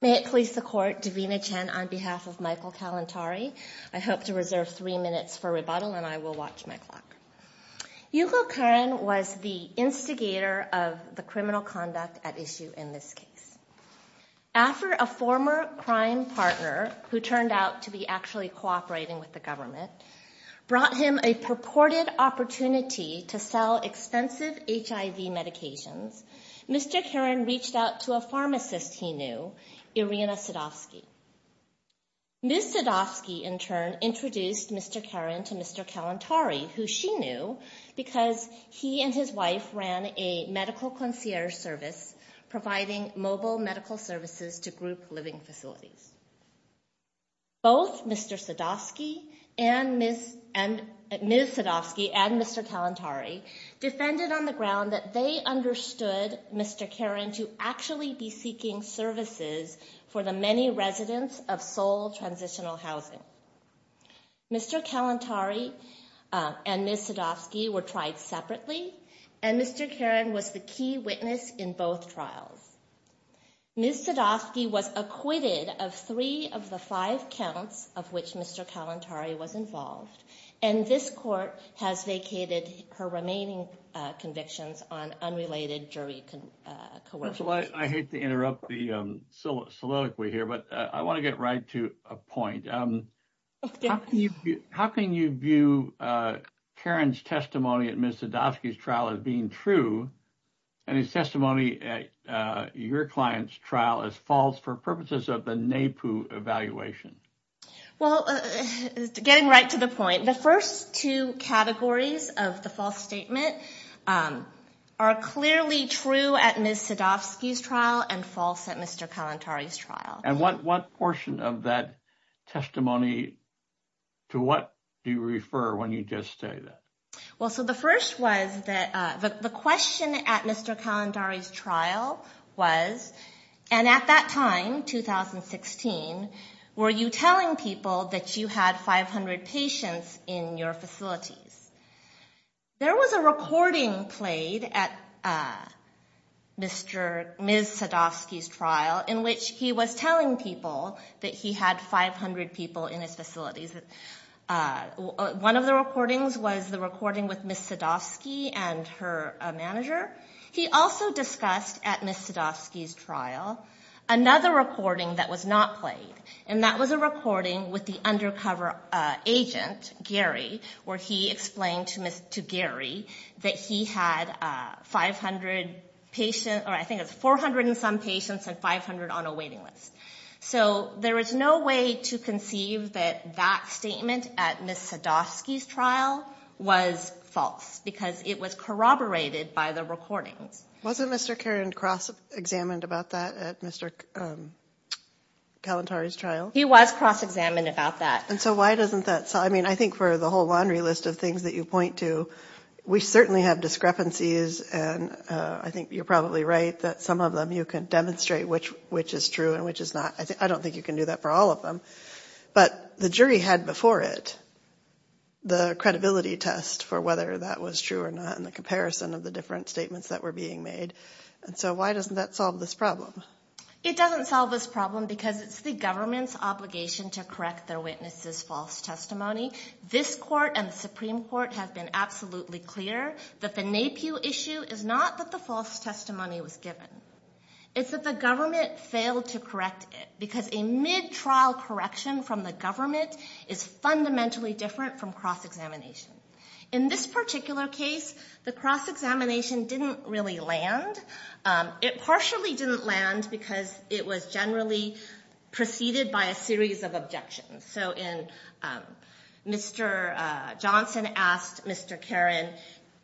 May it please the court, Davina Chen on behalf of Michael Kalantari. I hope to reserve three minutes for rebuttal and I will watch my clock. Yugo Karin was the instigator of the criminal conduct at issue in this case. After a former crime partner who turned out to be actually cooperating with the government brought him a purported opportunity to sell expensive HIV medications, Mr. Karin reached out to a pharmacist he knew, Irina Sadovsky. Ms. Sadovsky in turn introduced Mr. Karin to Mr. Kalantari who she knew because he and his wife ran a medical concierge service providing mobile medical services to group living facilities. Both Mr. Sadovsky and Ms. Sadovsky and Mr. Kalantari defended on the ground that they understood Mr. Karin to actually be seeking services for the many residents of Seoul Transitional Housing. Mr. Kalantari and Ms. Sadovsky were tried separately and Mr. Karin was the key witness in both trials. Ms. Sadovsky was acquitted of three of the five counts of which Mr. Kalantari was involved and this court has vacated her remaining convictions on unrelated jury coercion. I hate to interrupt the soliloquy here but I want to get right to a point. How can you view Karin's testimony at Ms. Sadovsky's trial as being true and his testimony at your client's trial as false for purposes of the NAPU evaluation? Well, getting right to the point, the first two categories of the false statement are clearly true at Ms. Sadovsky's trial and false at Mr. Kalantari's trial. And what portion of that testimony to what do you refer when you just say that? Well, so the first was that the question at Mr. Kalantari's were you telling people that you had 500 patients in your facilities? There was a recording played at Ms. Sadovsky's trial in which he was telling people that he had 500 people in his facilities. One of the recordings was the recording with Ms. Sadovsky and her manager. He also discussed at Ms. Sadovsky's trial and that was a recording with the undercover agent Gary where he explained to Gary that he had 500 patients or I think it's 400 and some patients and 500 on a waiting list. So there is no way to conceive that that statement at Ms. Sadovsky's trial was false because it was corroborated by the recordings. Wasn't Mr. Caron cross-examined about that at Mr. Kalantari's trial? He was cross-examined about that. And so why doesn't that, I mean I think for the whole laundry list of things that you point to, we certainly have discrepancies and I think you're probably right that some of them you can demonstrate which which is true and which is not. I don't think you can do that for all of them. But the jury had before it the credibility test for whether that was true or not in the comparison of the different statements that were being made. And so why doesn't that solve this problem? It doesn't solve this problem because it's the government's obligation to correct their witnesses' false testimony. This court and the Supreme Court have been absolutely clear that the NAPIU issue is not that the false testimony was given. It's that the government failed to correct it because a mid-trial correction from the government is fundamentally different from cross-examination. In this particular case, the cross-examination didn't really land. It partially didn't land because it was generally preceded by a series of objections. So Mr. Johnson asked Mr. Caron,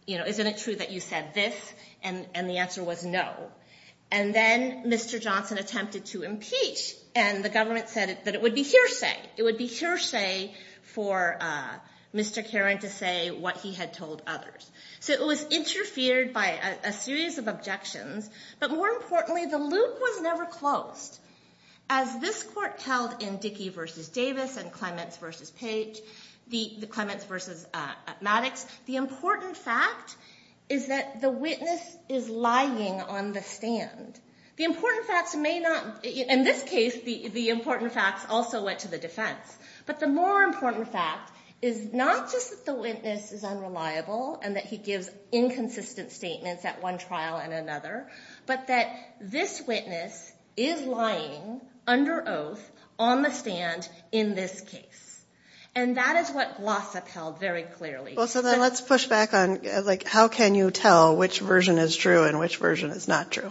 you know, isn't it true that you said this? And the answer was no. And then Mr. Johnson attempted to impeach and the government said that it would be hearsay. It would be hearsay for Mr. Caron to say what he had told others. So it was interfered by a series of objections. But more importantly, the loop was never closed. As this court held in Dickey v. Davis and Clements v. Page, the Clements v. Maddox, the important fact is that the witness is lying on the stand. The important facts may not, in this case, the important facts also went to the defense. But the more important fact is not just that the witness is unreliable and that he gives inconsistent statements at one trial and another, but that this witness is lying under oath on the stand in this case. And that is what Glossop held very clearly. So then let's push back on, like, how can you tell which version is true and which version is not true?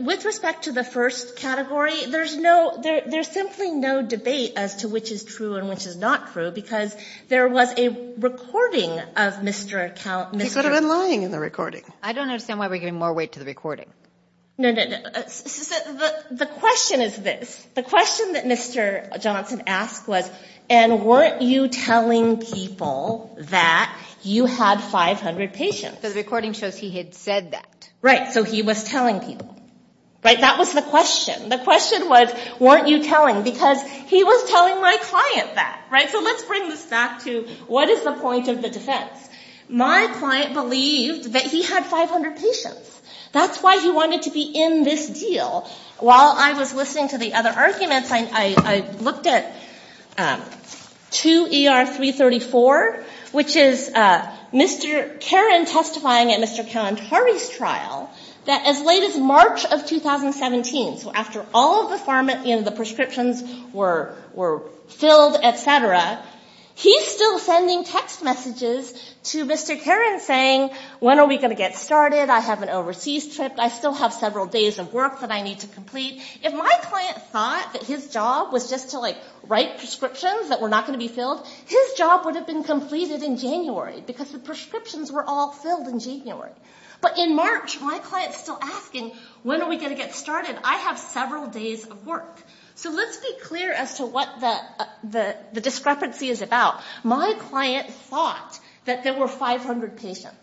With respect to the first category, there's no, there's no evidence. There was a recording of Mr. Caron. He could have been lying in the recording. I don't understand why we're giving more weight to the recording. No, no, no. The question is this. The question that Mr. Johnson asked was, and weren't you telling people that you had 500 patients? Because the recording shows he had said that. Right. So he was telling people. Right? That was the question. The question was, weren't you telling? Because he was telling my client that. Right? So let's bring this back to what is the point of the defense? My client believed that he had 500 patients. That's why he wanted to be in this deal. While I was listening to the other arguments, I looked at 2 ER 334, which is Mr. Caron testifying at Mr. Kalantari's trial, that as late as March of 2017, so after all of the pharma and the prescriptions were filled, et cetera, Mr. Caron was still sending text messages to Mr. Caron saying, when are we going to get started? I have an overseas trip. I still have several days of work that I need to complete. If my client thought that his job was just to write prescriptions that were not going to be filled, his job would have been completed in January because the prescriptions were all filled in January. But in March, my client is still asking, when are we going to get started? I have several days of work. So let's be clear as to what the discrepancy is about. My client thought that there were 500 patients.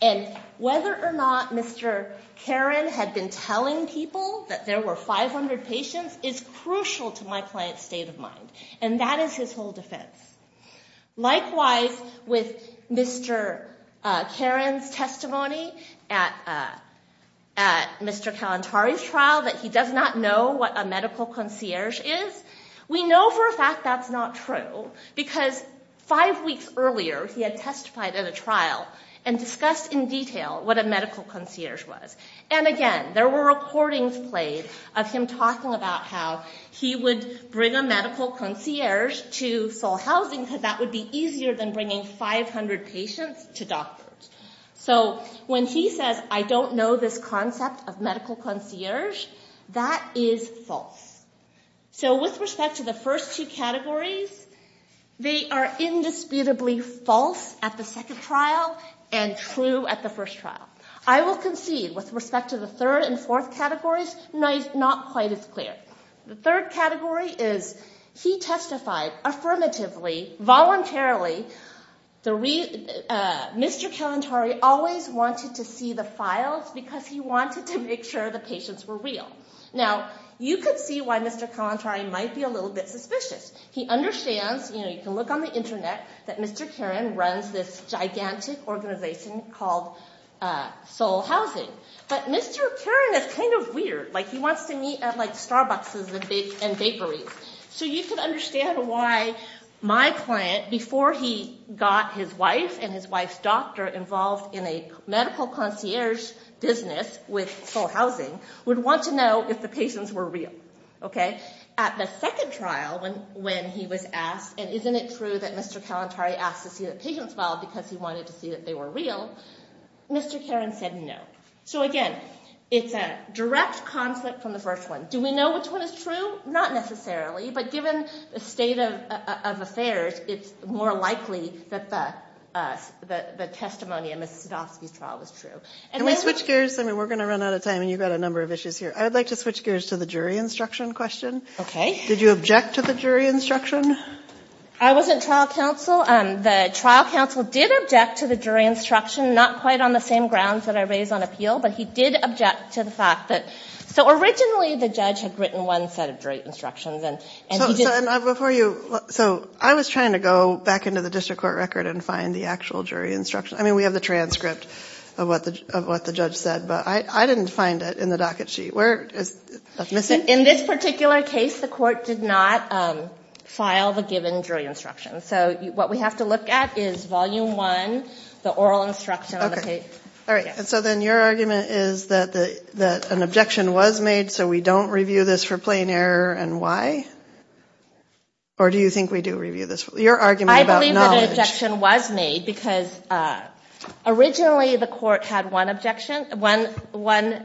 And whether or not Mr. Caron had been telling people that there were 500 patients is crucial to my client's state of mind. And that is his whole defense. Likewise, with Mr. Caron's testimony at Mr. Kalantari's about what a medical concierge is, we know for a fact that's not true because five weeks earlier he had testified at a trial and discussed in detail what a medical concierge was. And again, there were recordings played of him talking about how he would bring a medical concierge to Seoul Housing because that would be easier than bringing 500 patients to doctors. So when he says, I don't know this concept of medical concierge, that is false. So with respect to the first two categories, they are indisputably false at the second trial and true at the first trial. I will concede with respect to the third and fourth categories, not quite as clear. The third category is he testified affirmatively, voluntarily. Mr. Kalantari always wanted to see the file because he wanted to make sure the patients were real. Now, you can see why Mr. Kalantari might be a little bit suspicious. He understands, you know, you can look on the internet that Mr. Caron runs this gigantic organization called Seoul Housing. But Mr. Caron is kind of weird. Like he wants to meet at like Starbuckses and bakeries. So you can understand why my client, before he got his wife and his wife's doctor involved in a medical concierge business with Seoul Housing, would want to know if the patients were real. Okay. At the second trial, when he was asked, and isn't it true that Mr. Kalantari asked to see the patient's file because he wanted to see that they were real, Mr. Caron said no. So again, it's a direct conflict from the first one. Do we know which one is true? Not necessarily. But given the state of affairs, it's more likely that the testimony in Mrs. Sidofsky's trial was true. And then... Can we switch gears? I mean, we're going to run out of time and you've got a number of issues here. I would like to switch gears to the jury instruction question. Okay. Did you object to the jury instruction? I wasn't trial counsel. The trial counsel did object to the jury instruction, not quite on the same grounds that I raised on appeal. But he did object to the jury instruction. So originally the judge had written one set of jury instructions. So I was trying to go back into the district court record and find the actual jury instruction. I mean, we have the transcript of what the judge said. But I didn't find it in the docket sheet. Where is it? In this particular case, the court did not file the given jury instruction. So what we have to look at is volume one, the oral instruction on the page. All right. So then your argument is that an objection was made so we don't review this for plain error and why? Or do you think we do review this? Your argument about knowledge. I believe that an objection was made because originally the court had one objection, one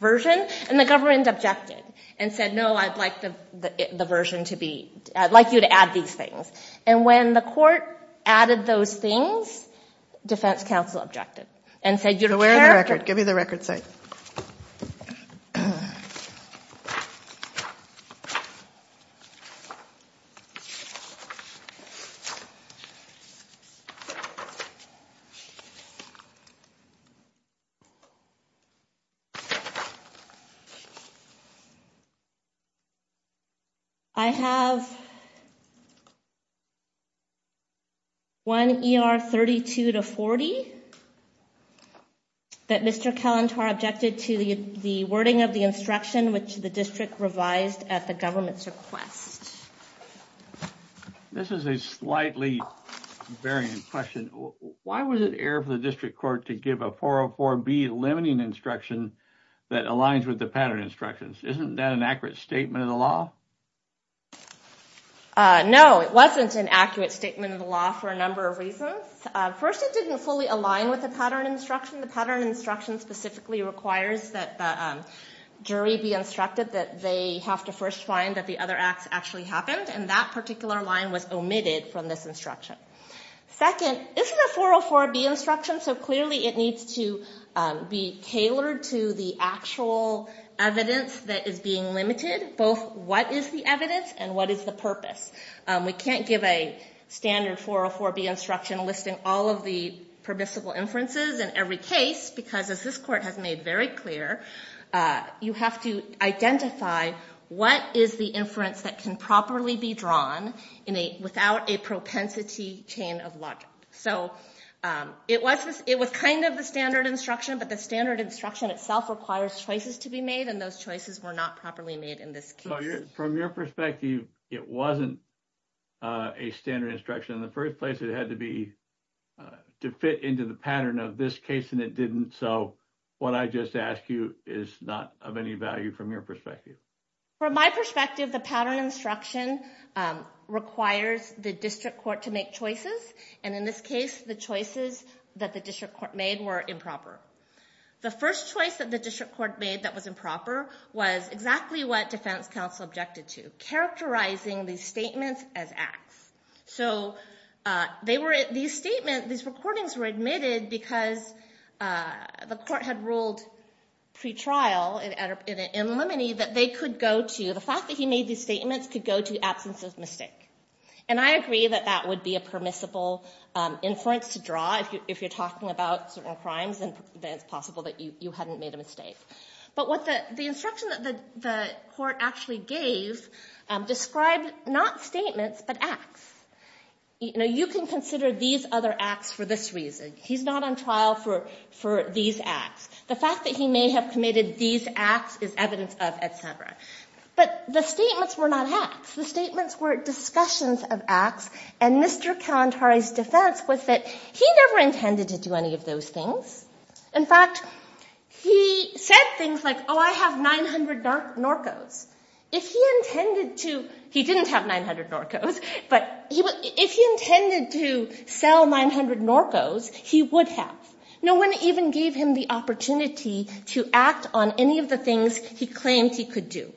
version, and the government objected and said, no, I'd like the version to be, I'd like you to add these things. And when the court added those things, defense counsel objected and said you'd wear the record. Give me the record, sorry. I have one ER 32 to 40. I believe that Mr. Kelantar objected to the wording of the instruction which the district revised at the government's request. This is a slightly varying question. Why was it error for the district court to give a 404B limiting instruction that aligns with the pattern instructions? Isn't that an accurate statement of the law? No, it wasn't an accurate statement of the law for a number of reasons. First, it didn't fully align with the pattern instruction. The pattern instruction specifically requires that the jury be instructed that they have to first find that the other acts actually happened and that particular line was omitted from this instruction. Second, isn't a 404B instruction, so clearly it needs to be tailored to the actual evidence that is being limited, both what is the evidence and what is the purpose. We can't give a standard 404B instruction listing all of the permissible inferences in every case because, as this court has made very clear, you have to identify what is the inference that can properly be drawn without a propensity chain of logic. It was kind of the standard instruction, but the standard instruction itself requires choices to be made and those choices were not properly made in this case. So, from your perspective, it wasn't a standard instruction in the first place. It had to fit into the pattern of this case and it didn't, so what I just asked you is not of any value from your perspective. From my perspective, the pattern instruction requires the district court to make choices and, in this case, the choices that the district court made were improper. The first choice that the district court made that was improper was exactly what defense counsel objected to, characterizing these statements as acts. So, these statements, these recordings were admitted because the court had ruled pre-trial in limine that they could go to, the fact that he made these statements could go to absence of mistake. And I agree that that would be a permissible inference to draw if you're talking about certain crimes, then it's possible that you hadn't made a mistake. But what the, the instruction that the court actually gave described not statements but acts. You know, you can consider these other acts for this reason. He's not on trial for these acts. The fact that he may have committed these acts is evidence of etc. But the statements were not acts. The statements were discussions of acts and Mr. Kalantari's defense was that he never intended to do any of those things. In fact, he said things like, oh, I have 900 Norcos. If he intended to, he didn't have 900 Norcos, but if he intended to sell 900 Norcos, he would have. No one even gave him the opportunity to act on any of the things he claimed he could do.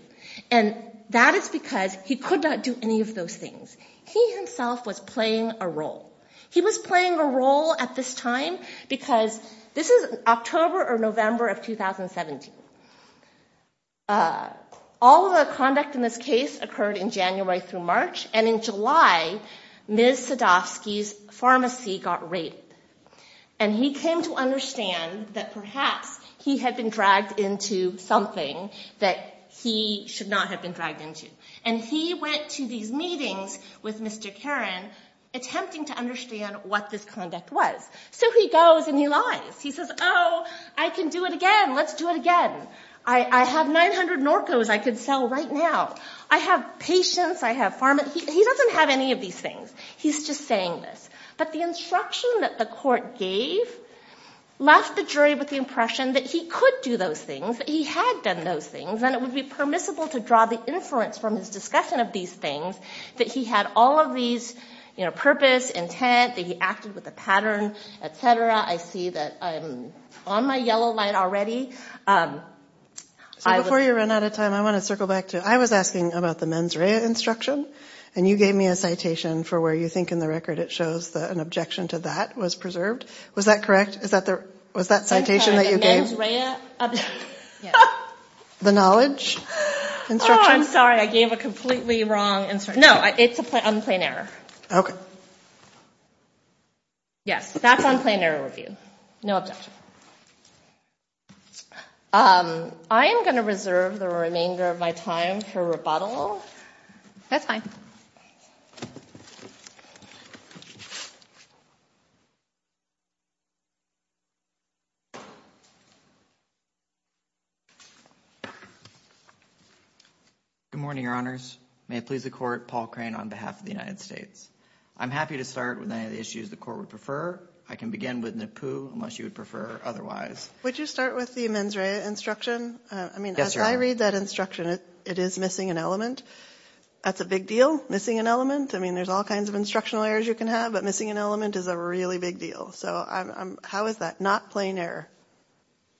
And that is because he could not do any of those things. He himself was playing a role. He was playing a role at this time because this is October or November of 2017. All of the conduct in this case occurred in January through March. And in July, Ms. Sadovsky's pharmacy got raided. And he came to understand that perhaps he had been dragged into something that he should not have been dragged into. And he went to these meetings with Mr. Karan, attempting to understand what this conduct was. So he goes and he lies. He says, oh, I can do it again. Let's do it again. I have 900 Norcos I can sell right now. I have patients. I have pharmacists. He doesn't have any of these things. He's just saying this. But the instruction that the court gave left the jury with the impression that he could do those things, that he had done those things, and it would be permissible to draw the inference from his discussion of these things that he had all of these purpose, intent, that he acted with a pattern, et cetera. I see that I'm on my yellow light already. So before you run out of time, I want to circle back to I was asking about the mens rea instruction, and you gave me a citation for where you think in the record it shows that an objection to that was preserved. Was that correct? Was that citation that you gave? The knowledge instruction? Oh, I'm sorry. I gave a completely wrong instruction. No, it's on plain error. Okay. Yes, that's on plain error review. No objection. I am going to reserve the remainder of my time for rebuttal. That's fine. Good morning, Your Honors. May it please the court, Paul Crane on behalf of the United States. I'm happy to start with any of the issues the court would prefer. I can begin with Nipu unless you would prefer otherwise. Would you start with the mens rea instruction? Yes, Your Honor. When I read that instruction, it is missing an element. That's a big deal, missing an element. I mean, there's all kinds of instructional errors you can have, but missing an element is a really big deal. So how is that not plain error?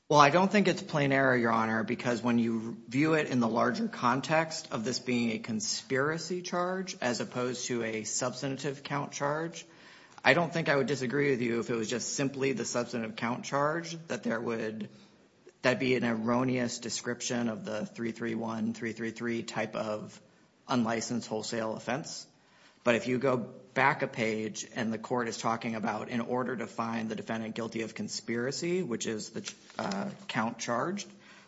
Well, I don't think it's plain error, Your Honor, because when you view it in the larger context of this being a conspiracy charge as opposed to a substantive count charge, I don't think I would disagree with you if it was just simply the substantive count charge, that there would be an erroneous description of the 331333 type of unlicensed wholesale offense. But if you go back a page and the court is talking about in order to find the defendant guilty of conspiracy, which is the count charge,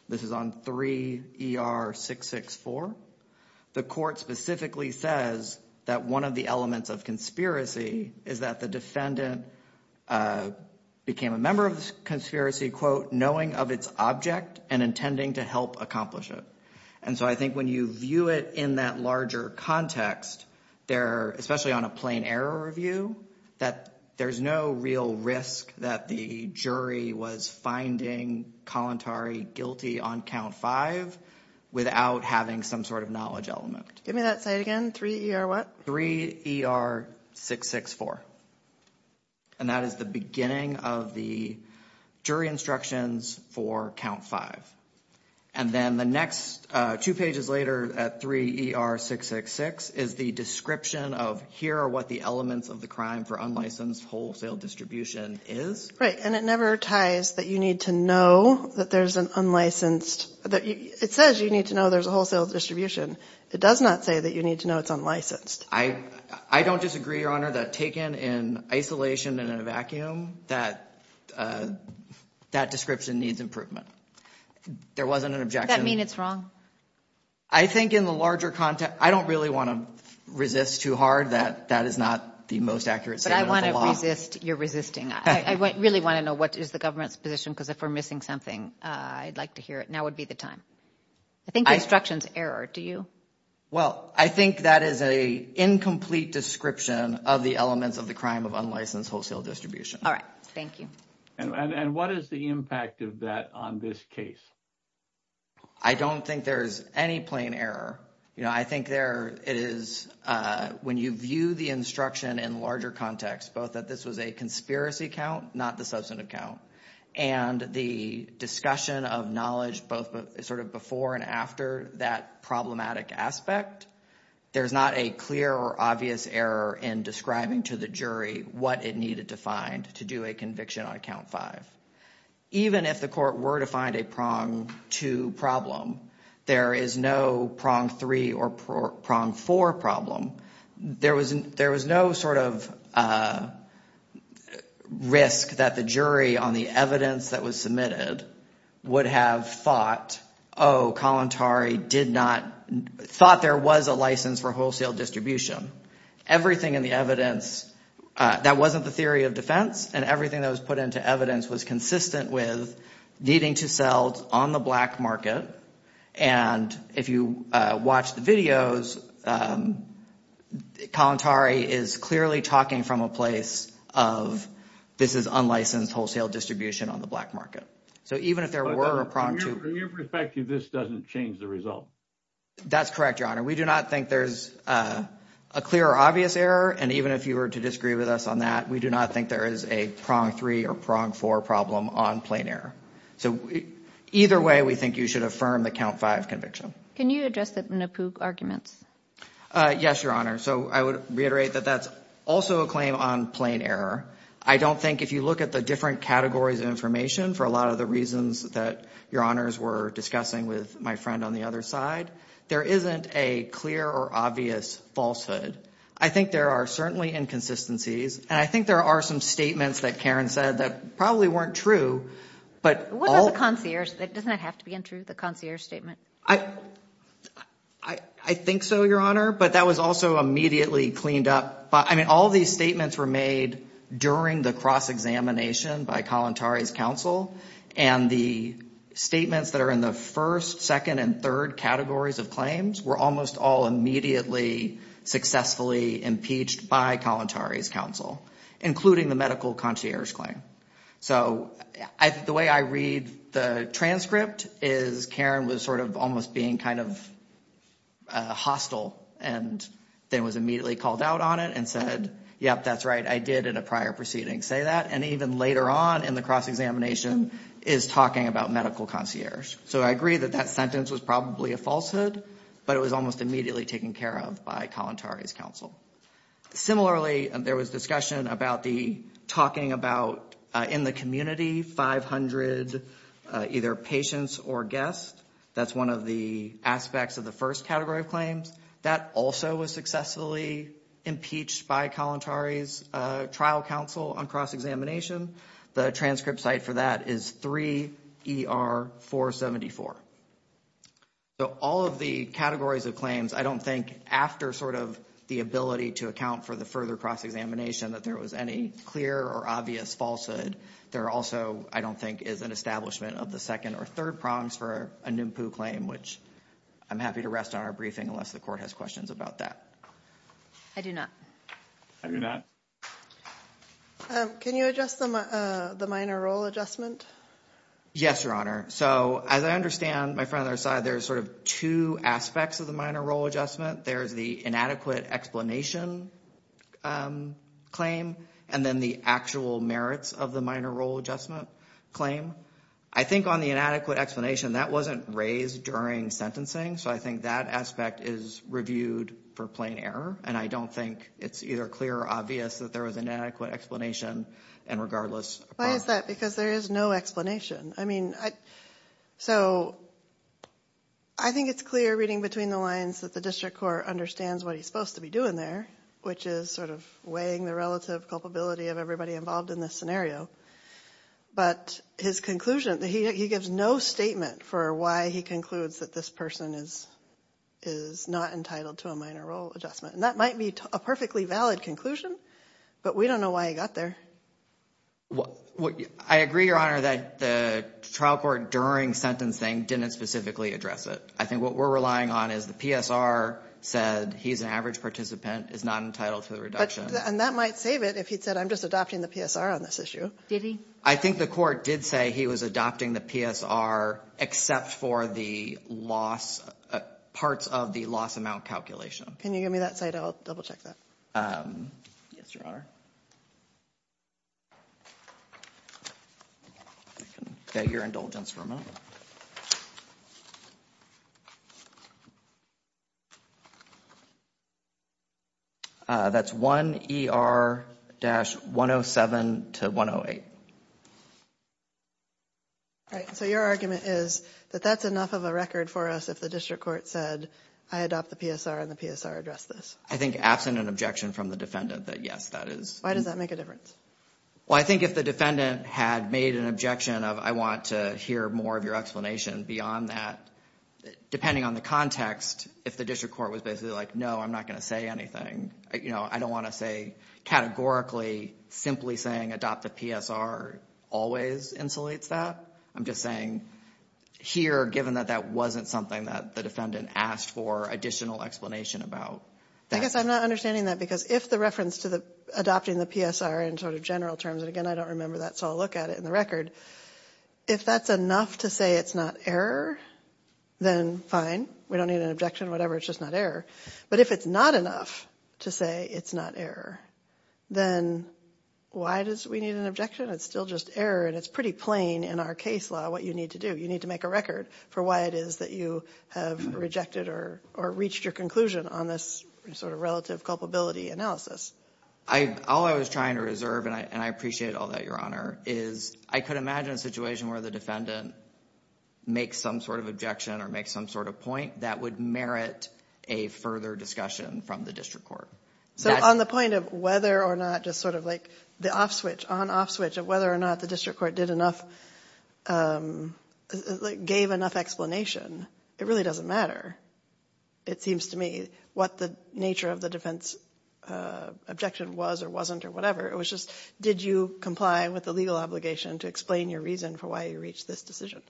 this is on 3ER664, the court specifically says that one of the elements of conspiracy is that the defendant became a member of the conspiracy, quote, knowing of its object and intending to help accomplish it. And so I think when you view it in that larger context there, especially on a plain error review, that there's no real risk that the jury was finding Kalantari guilty on count five without having some sort of knowledge element. Give me that site again. 3ER what? 3ER664. And that is the beginning of the jury instructions for count five. And then the next two pages later at 3ER666 is the description of here are what the elements of the crime for unlicensed wholesale distribution is. Right. And it never ties that you need to know that there's an unlicensed – it says you need to know there's a wholesale distribution. It does not say that you need to know it's unlicensed. I don't disagree, Your Honor, that taken in isolation and in a vacuum, that description needs improvement. There wasn't an objection. Does that mean it's wrong? I think in the larger context – I don't really want to resist too hard that that is not the most accurate statement of the law. But I want to resist your resisting. I really want to know what is the government's position because if we're missing something, I'd like to hear it. Now would be the time. I think the instruction's error. Do you? Well, I think that is an incomplete description of the elements of the crime of unlicensed wholesale distribution. All right. Thank you. And what is the impact of that on this case? I don't think there is any plain error. I think there is – when you view the instruction in larger context, both that this was a conspiracy count, not the substantive count, and the discussion of knowledge both sort of before and after that problematic aspect, there's not a clear or obvious error in describing to the jury what it needed to find to do a conviction on count five. Even if the court were to find a prong two problem, there is no prong three or prong four problem. There was no sort of risk that the jury on the evidence that was submitted would have thought, oh, Kalantari did not – thought there was a license for wholesale distribution. Everything in the evidence – that wasn't the theory of defense, and everything that was put into evidence was consistent with needing to sell on the black market. And if you watch the videos, Kalantari is clearly talking from a place of this is unlicensed wholesale distribution on the black market. So even if there were a prong two – From your perspective, this doesn't change the result. That's correct, Your Honor. We do not think there's a clear or obvious error, and even if you were to disagree with us on that, we do not think there is a prong three or prong four problem on plain error. So either way, we think you should affirm the count five conviction. Can you address the Napook arguments? Yes, Your Honor. So I would reiterate that that's also a claim on plain error. I don't think if you look at the different categories of information for a lot of the reasons that Your Honors were discussing with my friend on the other side, there isn't a clear or obvious falsehood. I think there are certainly inconsistencies, and I think there are some statements that Karen said that probably weren't true, but all – Doesn't that have to be untrue, the concierge statement? I think so, Your Honor, but that was also immediately cleaned up. I mean, all these statements were made during the cross-examination by Kalantari's counsel, and the statements that are in the first, second, and third categories of claims were almost all immediately successfully impeached by Kalantari's counsel, including the medical concierge claim. So the way I read the transcript is Karen was sort of almost being kind of hostile and then was immediately called out on it and said, yep, that's right, I did in a prior proceeding say that, and even later on in the cross-examination is talking about medical concierge. So I agree that that sentence was probably a falsehood, but it was almost immediately taken care of by Kalantari's counsel. Similarly, there was discussion about the talking about, in the community, 500 either patients or guests. That's one of the aspects of the first category of claims. That also was successfully impeached by Kalantari's trial counsel on cross-examination. The transcript cite for that is 3 ER 474. So all of the categories of claims, I don't think, after sort of the ability to account for the further cross-examination, that there was any clear or obvious falsehood. There also, I don't think, is an establishment of the second or third prongs for a NMPU claim, which I'm happy to rest on our briefing unless the court has questions about that. I do not. I do not. Can you adjust the minor role adjustment? Yes, Your Honor. So as I understand, my friend on the other side, there's sort of two aspects of the minor role adjustment. There's the inadequate explanation claim, and then the actual merits of the minor role adjustment claim. I think on the inadequate explanation, that wasn't raised during sentencing, so I think that aspect is reviewed for plain error, and I don't think it's either clear or obvious that there was inadequate explanation, and regardless. Why is that? Because there is no explanation. I mean, so I think it's clear, reading between the lines, that the district court understands what he's supposed to be doing there, which is sort of weighing the relative culpability of everybody involved in this scenario, but his conclusion, he gives no statement for why he concludes that this person is not entitled to a minor role adjustment, and that might be a perfectly valid conclusion, but we don't know why he got there. I agree, Your Honor, that the trial court during sentencing didn't specifically address it. I think what we're relying on is the PSR said he's an average participant, is not entitled to a reduction. And that might save it if he'd said, I'm just adopting the PSR on this issue. Did he? I think the court did say he was adopting the PSR, except for the loss, parts of the loss amount calculation. Can you give me that slide? I'll double check that. Yes, Your Honor. I can get your indulgence for a moment. That's 1ER-107-108. All right, so your argument is that that's enough of a record for us if the district court said, I adopt the PSR and the PSR addressed this. I think, absent an objection from the defendant, that yes, that is. Why does that make a difference? Well, I think if the defendant had made an objection of, I want to hear more of your explanation beyond that, depending on the context, if the district court was basically like, no, I'm not going to say anything, I don't want to say categorically simply saying adopt the PSR always insulates that. I'm just saying here, given that that wasn't something that the defendant asked for additional explanation about. I guess I'm not understanding that, because if the reference to adopting the PSR in sort of general terms, and again, I don't remember that, so I'll look at it in the record. If that's enough to say it's not error, then fine. We don't need an objection, whatever, it's just not error. But if it's not enough to say it's not error, then why does we need an objection? It's still just error, and it's pretty plain in our case law what you need to do. for why it is that you have rejected or reached your conclusion on this sort of relative culpability analysis. All I was trying to reserve, and I appreciate all that, Your Honor, is I could imagine a situation where the defendant makes some sort of objection or makes some sort of point that would merit a further discussion from the district court. So on the point of whether or not just sort of like the off switch, on-off switch, of whether or not the district court gave enough explanation, it really doesn't matter, it seems to me, what the nature of the defense objection was or wasn't or whatever. It was just did you comply with the legal obligation to explain your reason for why you reached this decision?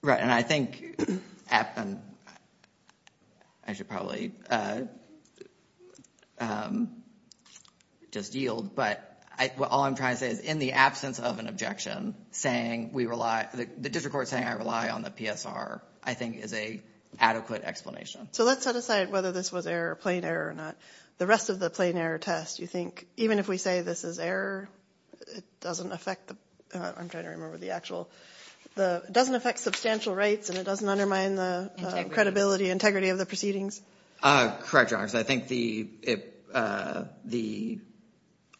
Right, and I think I should probably just yield, but all I'm trying to say is in the absence of an objection, the district court saying I rely on the PSR I think is an adequate explanation. So let's set aside whether this was error or plain error or not. The rest of the plain error test, you think, even if we say this is error, it doesn't affect substantial rights and it doesn't undermine the credibility and integrity of the proceedings? Correct, Your Honor, because I think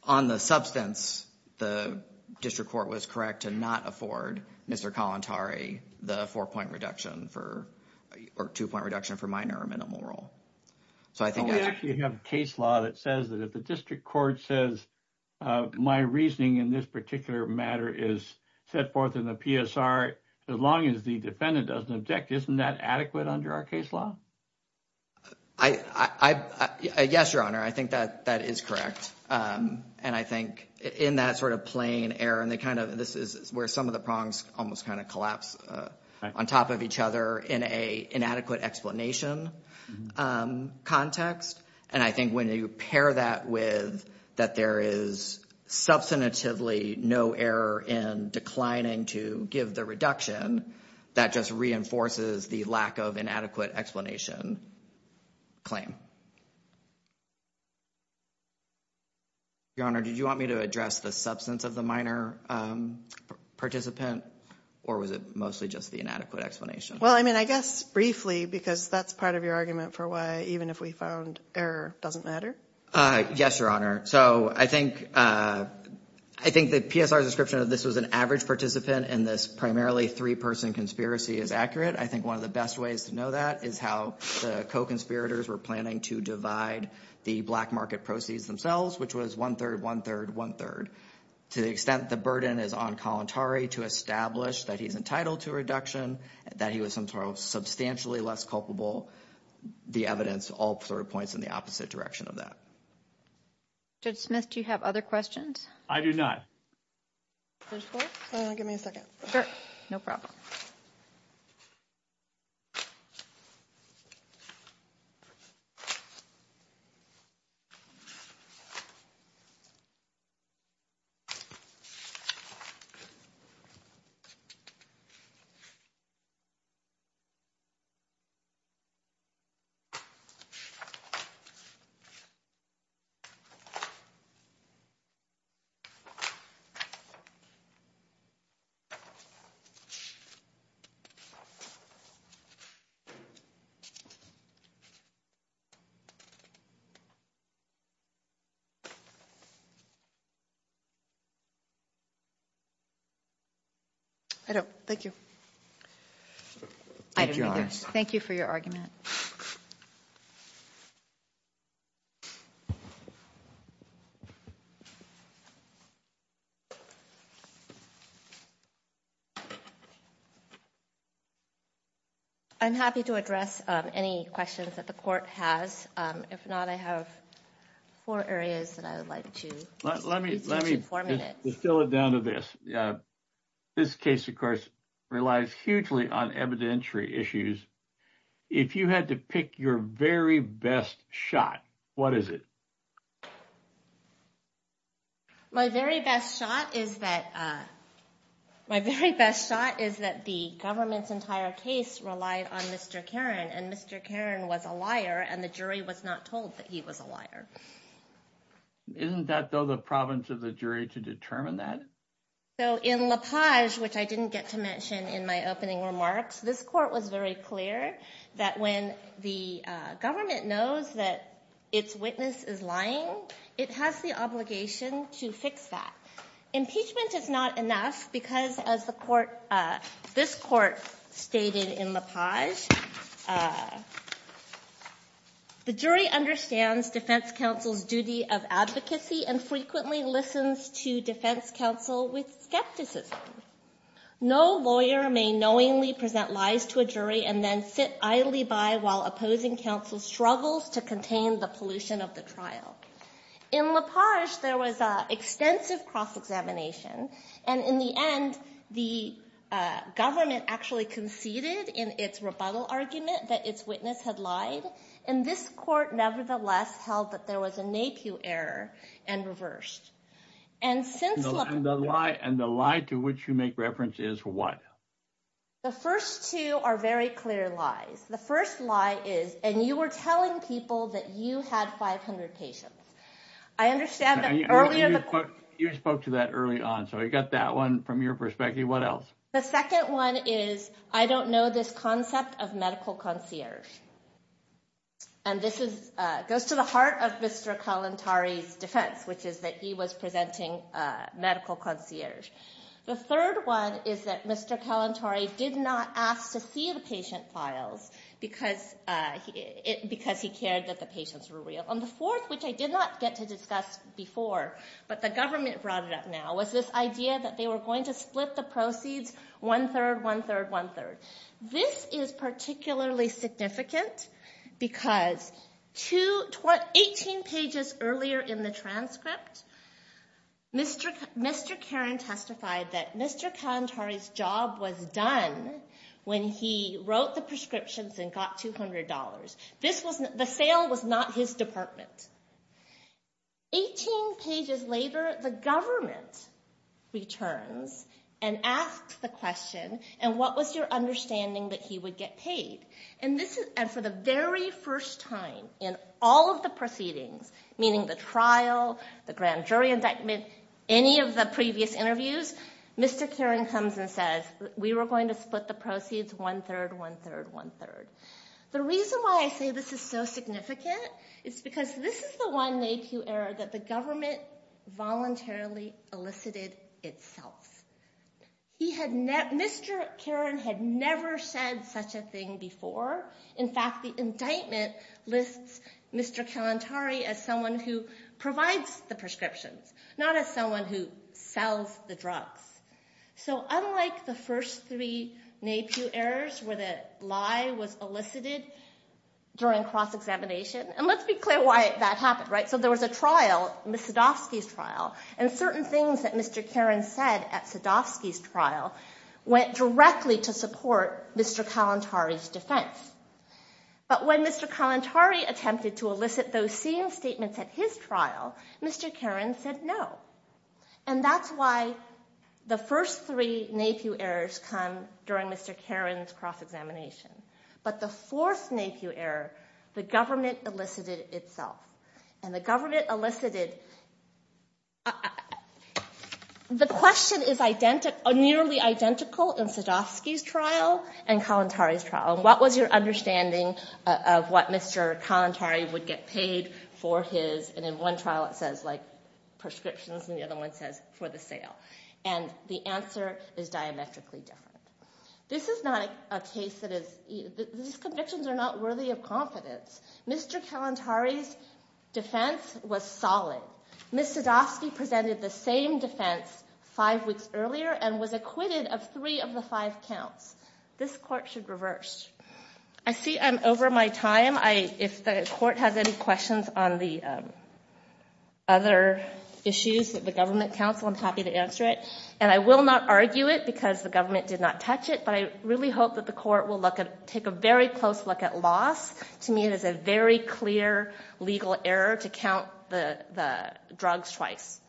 on the substance, the district court was correct to not afford Mr. Kalantari the four-point reduction or two-point reduction for minor or minimal role. We actually have a case law that says that if the district court says, my reasoning in this particular matter is set forth in the PSR, as long as the defendant doesn't object, isn't that adequate under our case law? Yes, Your Honor, I think that that is correct. And I think in that sort of plain error, and they kind of this is where some of the prongs almost kind of collapse on top of each other in a inadequate explanation context. And I think when you pair that with that there is substantively no error in declining to give the reduction, that just reinforces the lack of inadequate explanation claim. Your Honor, did you want me to address the substance of the minor participant, or was it mostly just the inadequate explanation? Well, I mean, I guess briefly because that's part of your argument for why even if we found error doesn't matter. Yes, Your Honor, so I think the PSR description of this was an average participant and this primarily three-person conspiracy is accurate. I think one of the best ways to know that is how the co-conspirators were planning to divide the black market proceeds themselves, which was one-third, one-third, one-third. To the extent the burden is on Kalantari to establish that he's entitled to a reduction, that he was entirely substantially less culpable, the evidence all points in the opposite direction of that. Judge Smith, do you have other questions? I do not. First floor? Give me a second. Sure, no problem. Thank you. Thank you for your argument. I'm happy to address any questions that the court has. If not, I have four areas that I would like to. Let me fill it down to this. This case, of course, relies hugely on evidentiary issues. If you had to pick your very best shot, what is it? My very best shot is that the government's entire case relied on Mr. Karen and Mr. Karen was a liar and the jury was not told that he was a liar. Isn't that, though, the problem to the jury to determine that? So in LaPage, which I didn't get to mention in my opening remarks, this court was very clear that when the government knows that its witness is lying, it has the obligation to fix that. Impeachment is not enough because, as this court stated in LaPage, the jury understands defense counsel's duty of advocacy and frequently listens to defense counsel with skepticism. No lawyer may knowingly present lies to a jury and then sit idly by while opposing counsel struggles to contain the pollution of the trial. In LaPage, there was extensive cross-examination. And in the end, the government actually conceded in its rebuttal argument that its witness had lied. And this court, nevertheless, held that there was a NAPU error and reversed. And the lie to which you make reference is what? The first two are very clear lies. The first lie is, and you were telling people that you had 500 patients. I understand that earlier. You spoke to that early on, so I got that one from your perspective. What else? The second one is, I don't know this concept of medical concierge. And this goes to the heart of Mr. Kalantari's defense, which is that he was presenting medical concierge. The third one is that Mr. Kalantari did not ask to see the patient files because he cared that the patients were real. And the fourth, which I did not get to discuss before, but the government brought it up now, was this idea that they were going to split the proceeds one-third, one-third, one-third. This is particularly significant because 18 pages earlier in the transcript, Mr. Karen testified that Mr. Kalantari's job was done when he wrote the prescriptions and got $200. The sale was not his department. Eighteen pages later, the government returns and asks the question, and what was your understanding that he would get paid? And for the very first time in all of the proceedings, meaning the trial, the grand jury indictment, any of the previous interviews, Mr. Karen comes and says, we were going to split the proceeds one-third, one-third, one-third. The reason why I say this is so significant is because this is the one NAPU error that the government voluntarily elicited itself. Mr. Karen had never said such a thing before. In fact, the indictment lists Mr. Kalantari as someone who provides the prescriptions, not as someone who sells the drugs. So unlike the first three NAPU errors where the lie was elicited during cross-examination, and let's be clear why that happened, right? So there was a trial, Ms. Sadovsky's trial, and certain things that Mr. Karen said at Sadovsky's trial went directly to support Mr. Kalantari's defense. But when Mr. Kalantari attempted to elicit those same statements at his trial, Mr. Karen said no. And that's why the first three NAPU errors come during Mr. Karen's cross-examination. But the fourth NAPU error, the government elicited itself. And the government elicited – the question is nearly identical in Sadovsky's trial and Kalantari's trial. What was your understanding of what Mr. Kalantari would get paid for his – for the sale? And the answer is diametrically different. This is not a case that is – these convictions are not worthy of confidence. Mr. Kalantari's defense was solid. Ms. Sadovsky presented the same defense five weeks earlier and was acquitted of three of the five counts. This court should reverse. I see I'm over my time. If the court has any questions on the other issues with the government counsel, I'm happy to answer it. And I will not argue it because the government did not touch it, but I really hope that the court will look at – take a very close look at loss. To me, it is a very clear legal error to count the drugs twice.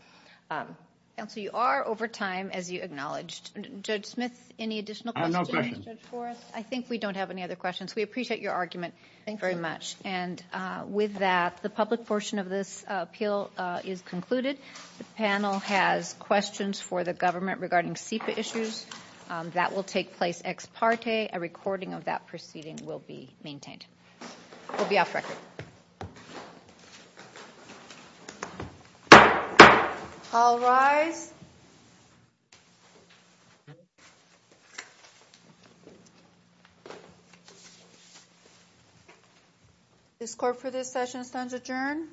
Counsel, you are over time, as you acknowledged. Judge Smith, any additional questions? Ms. Forrest, I think we don't have any other questions. We appreciate your argument very much. And with that, the public portion of this appeal is concluded. The panel has questions for the government regarding SEPA issues. That will take place ex parte. A recording of that proceeding will be maintained. We'll be off record. All rise. This court for this session stands adjourned.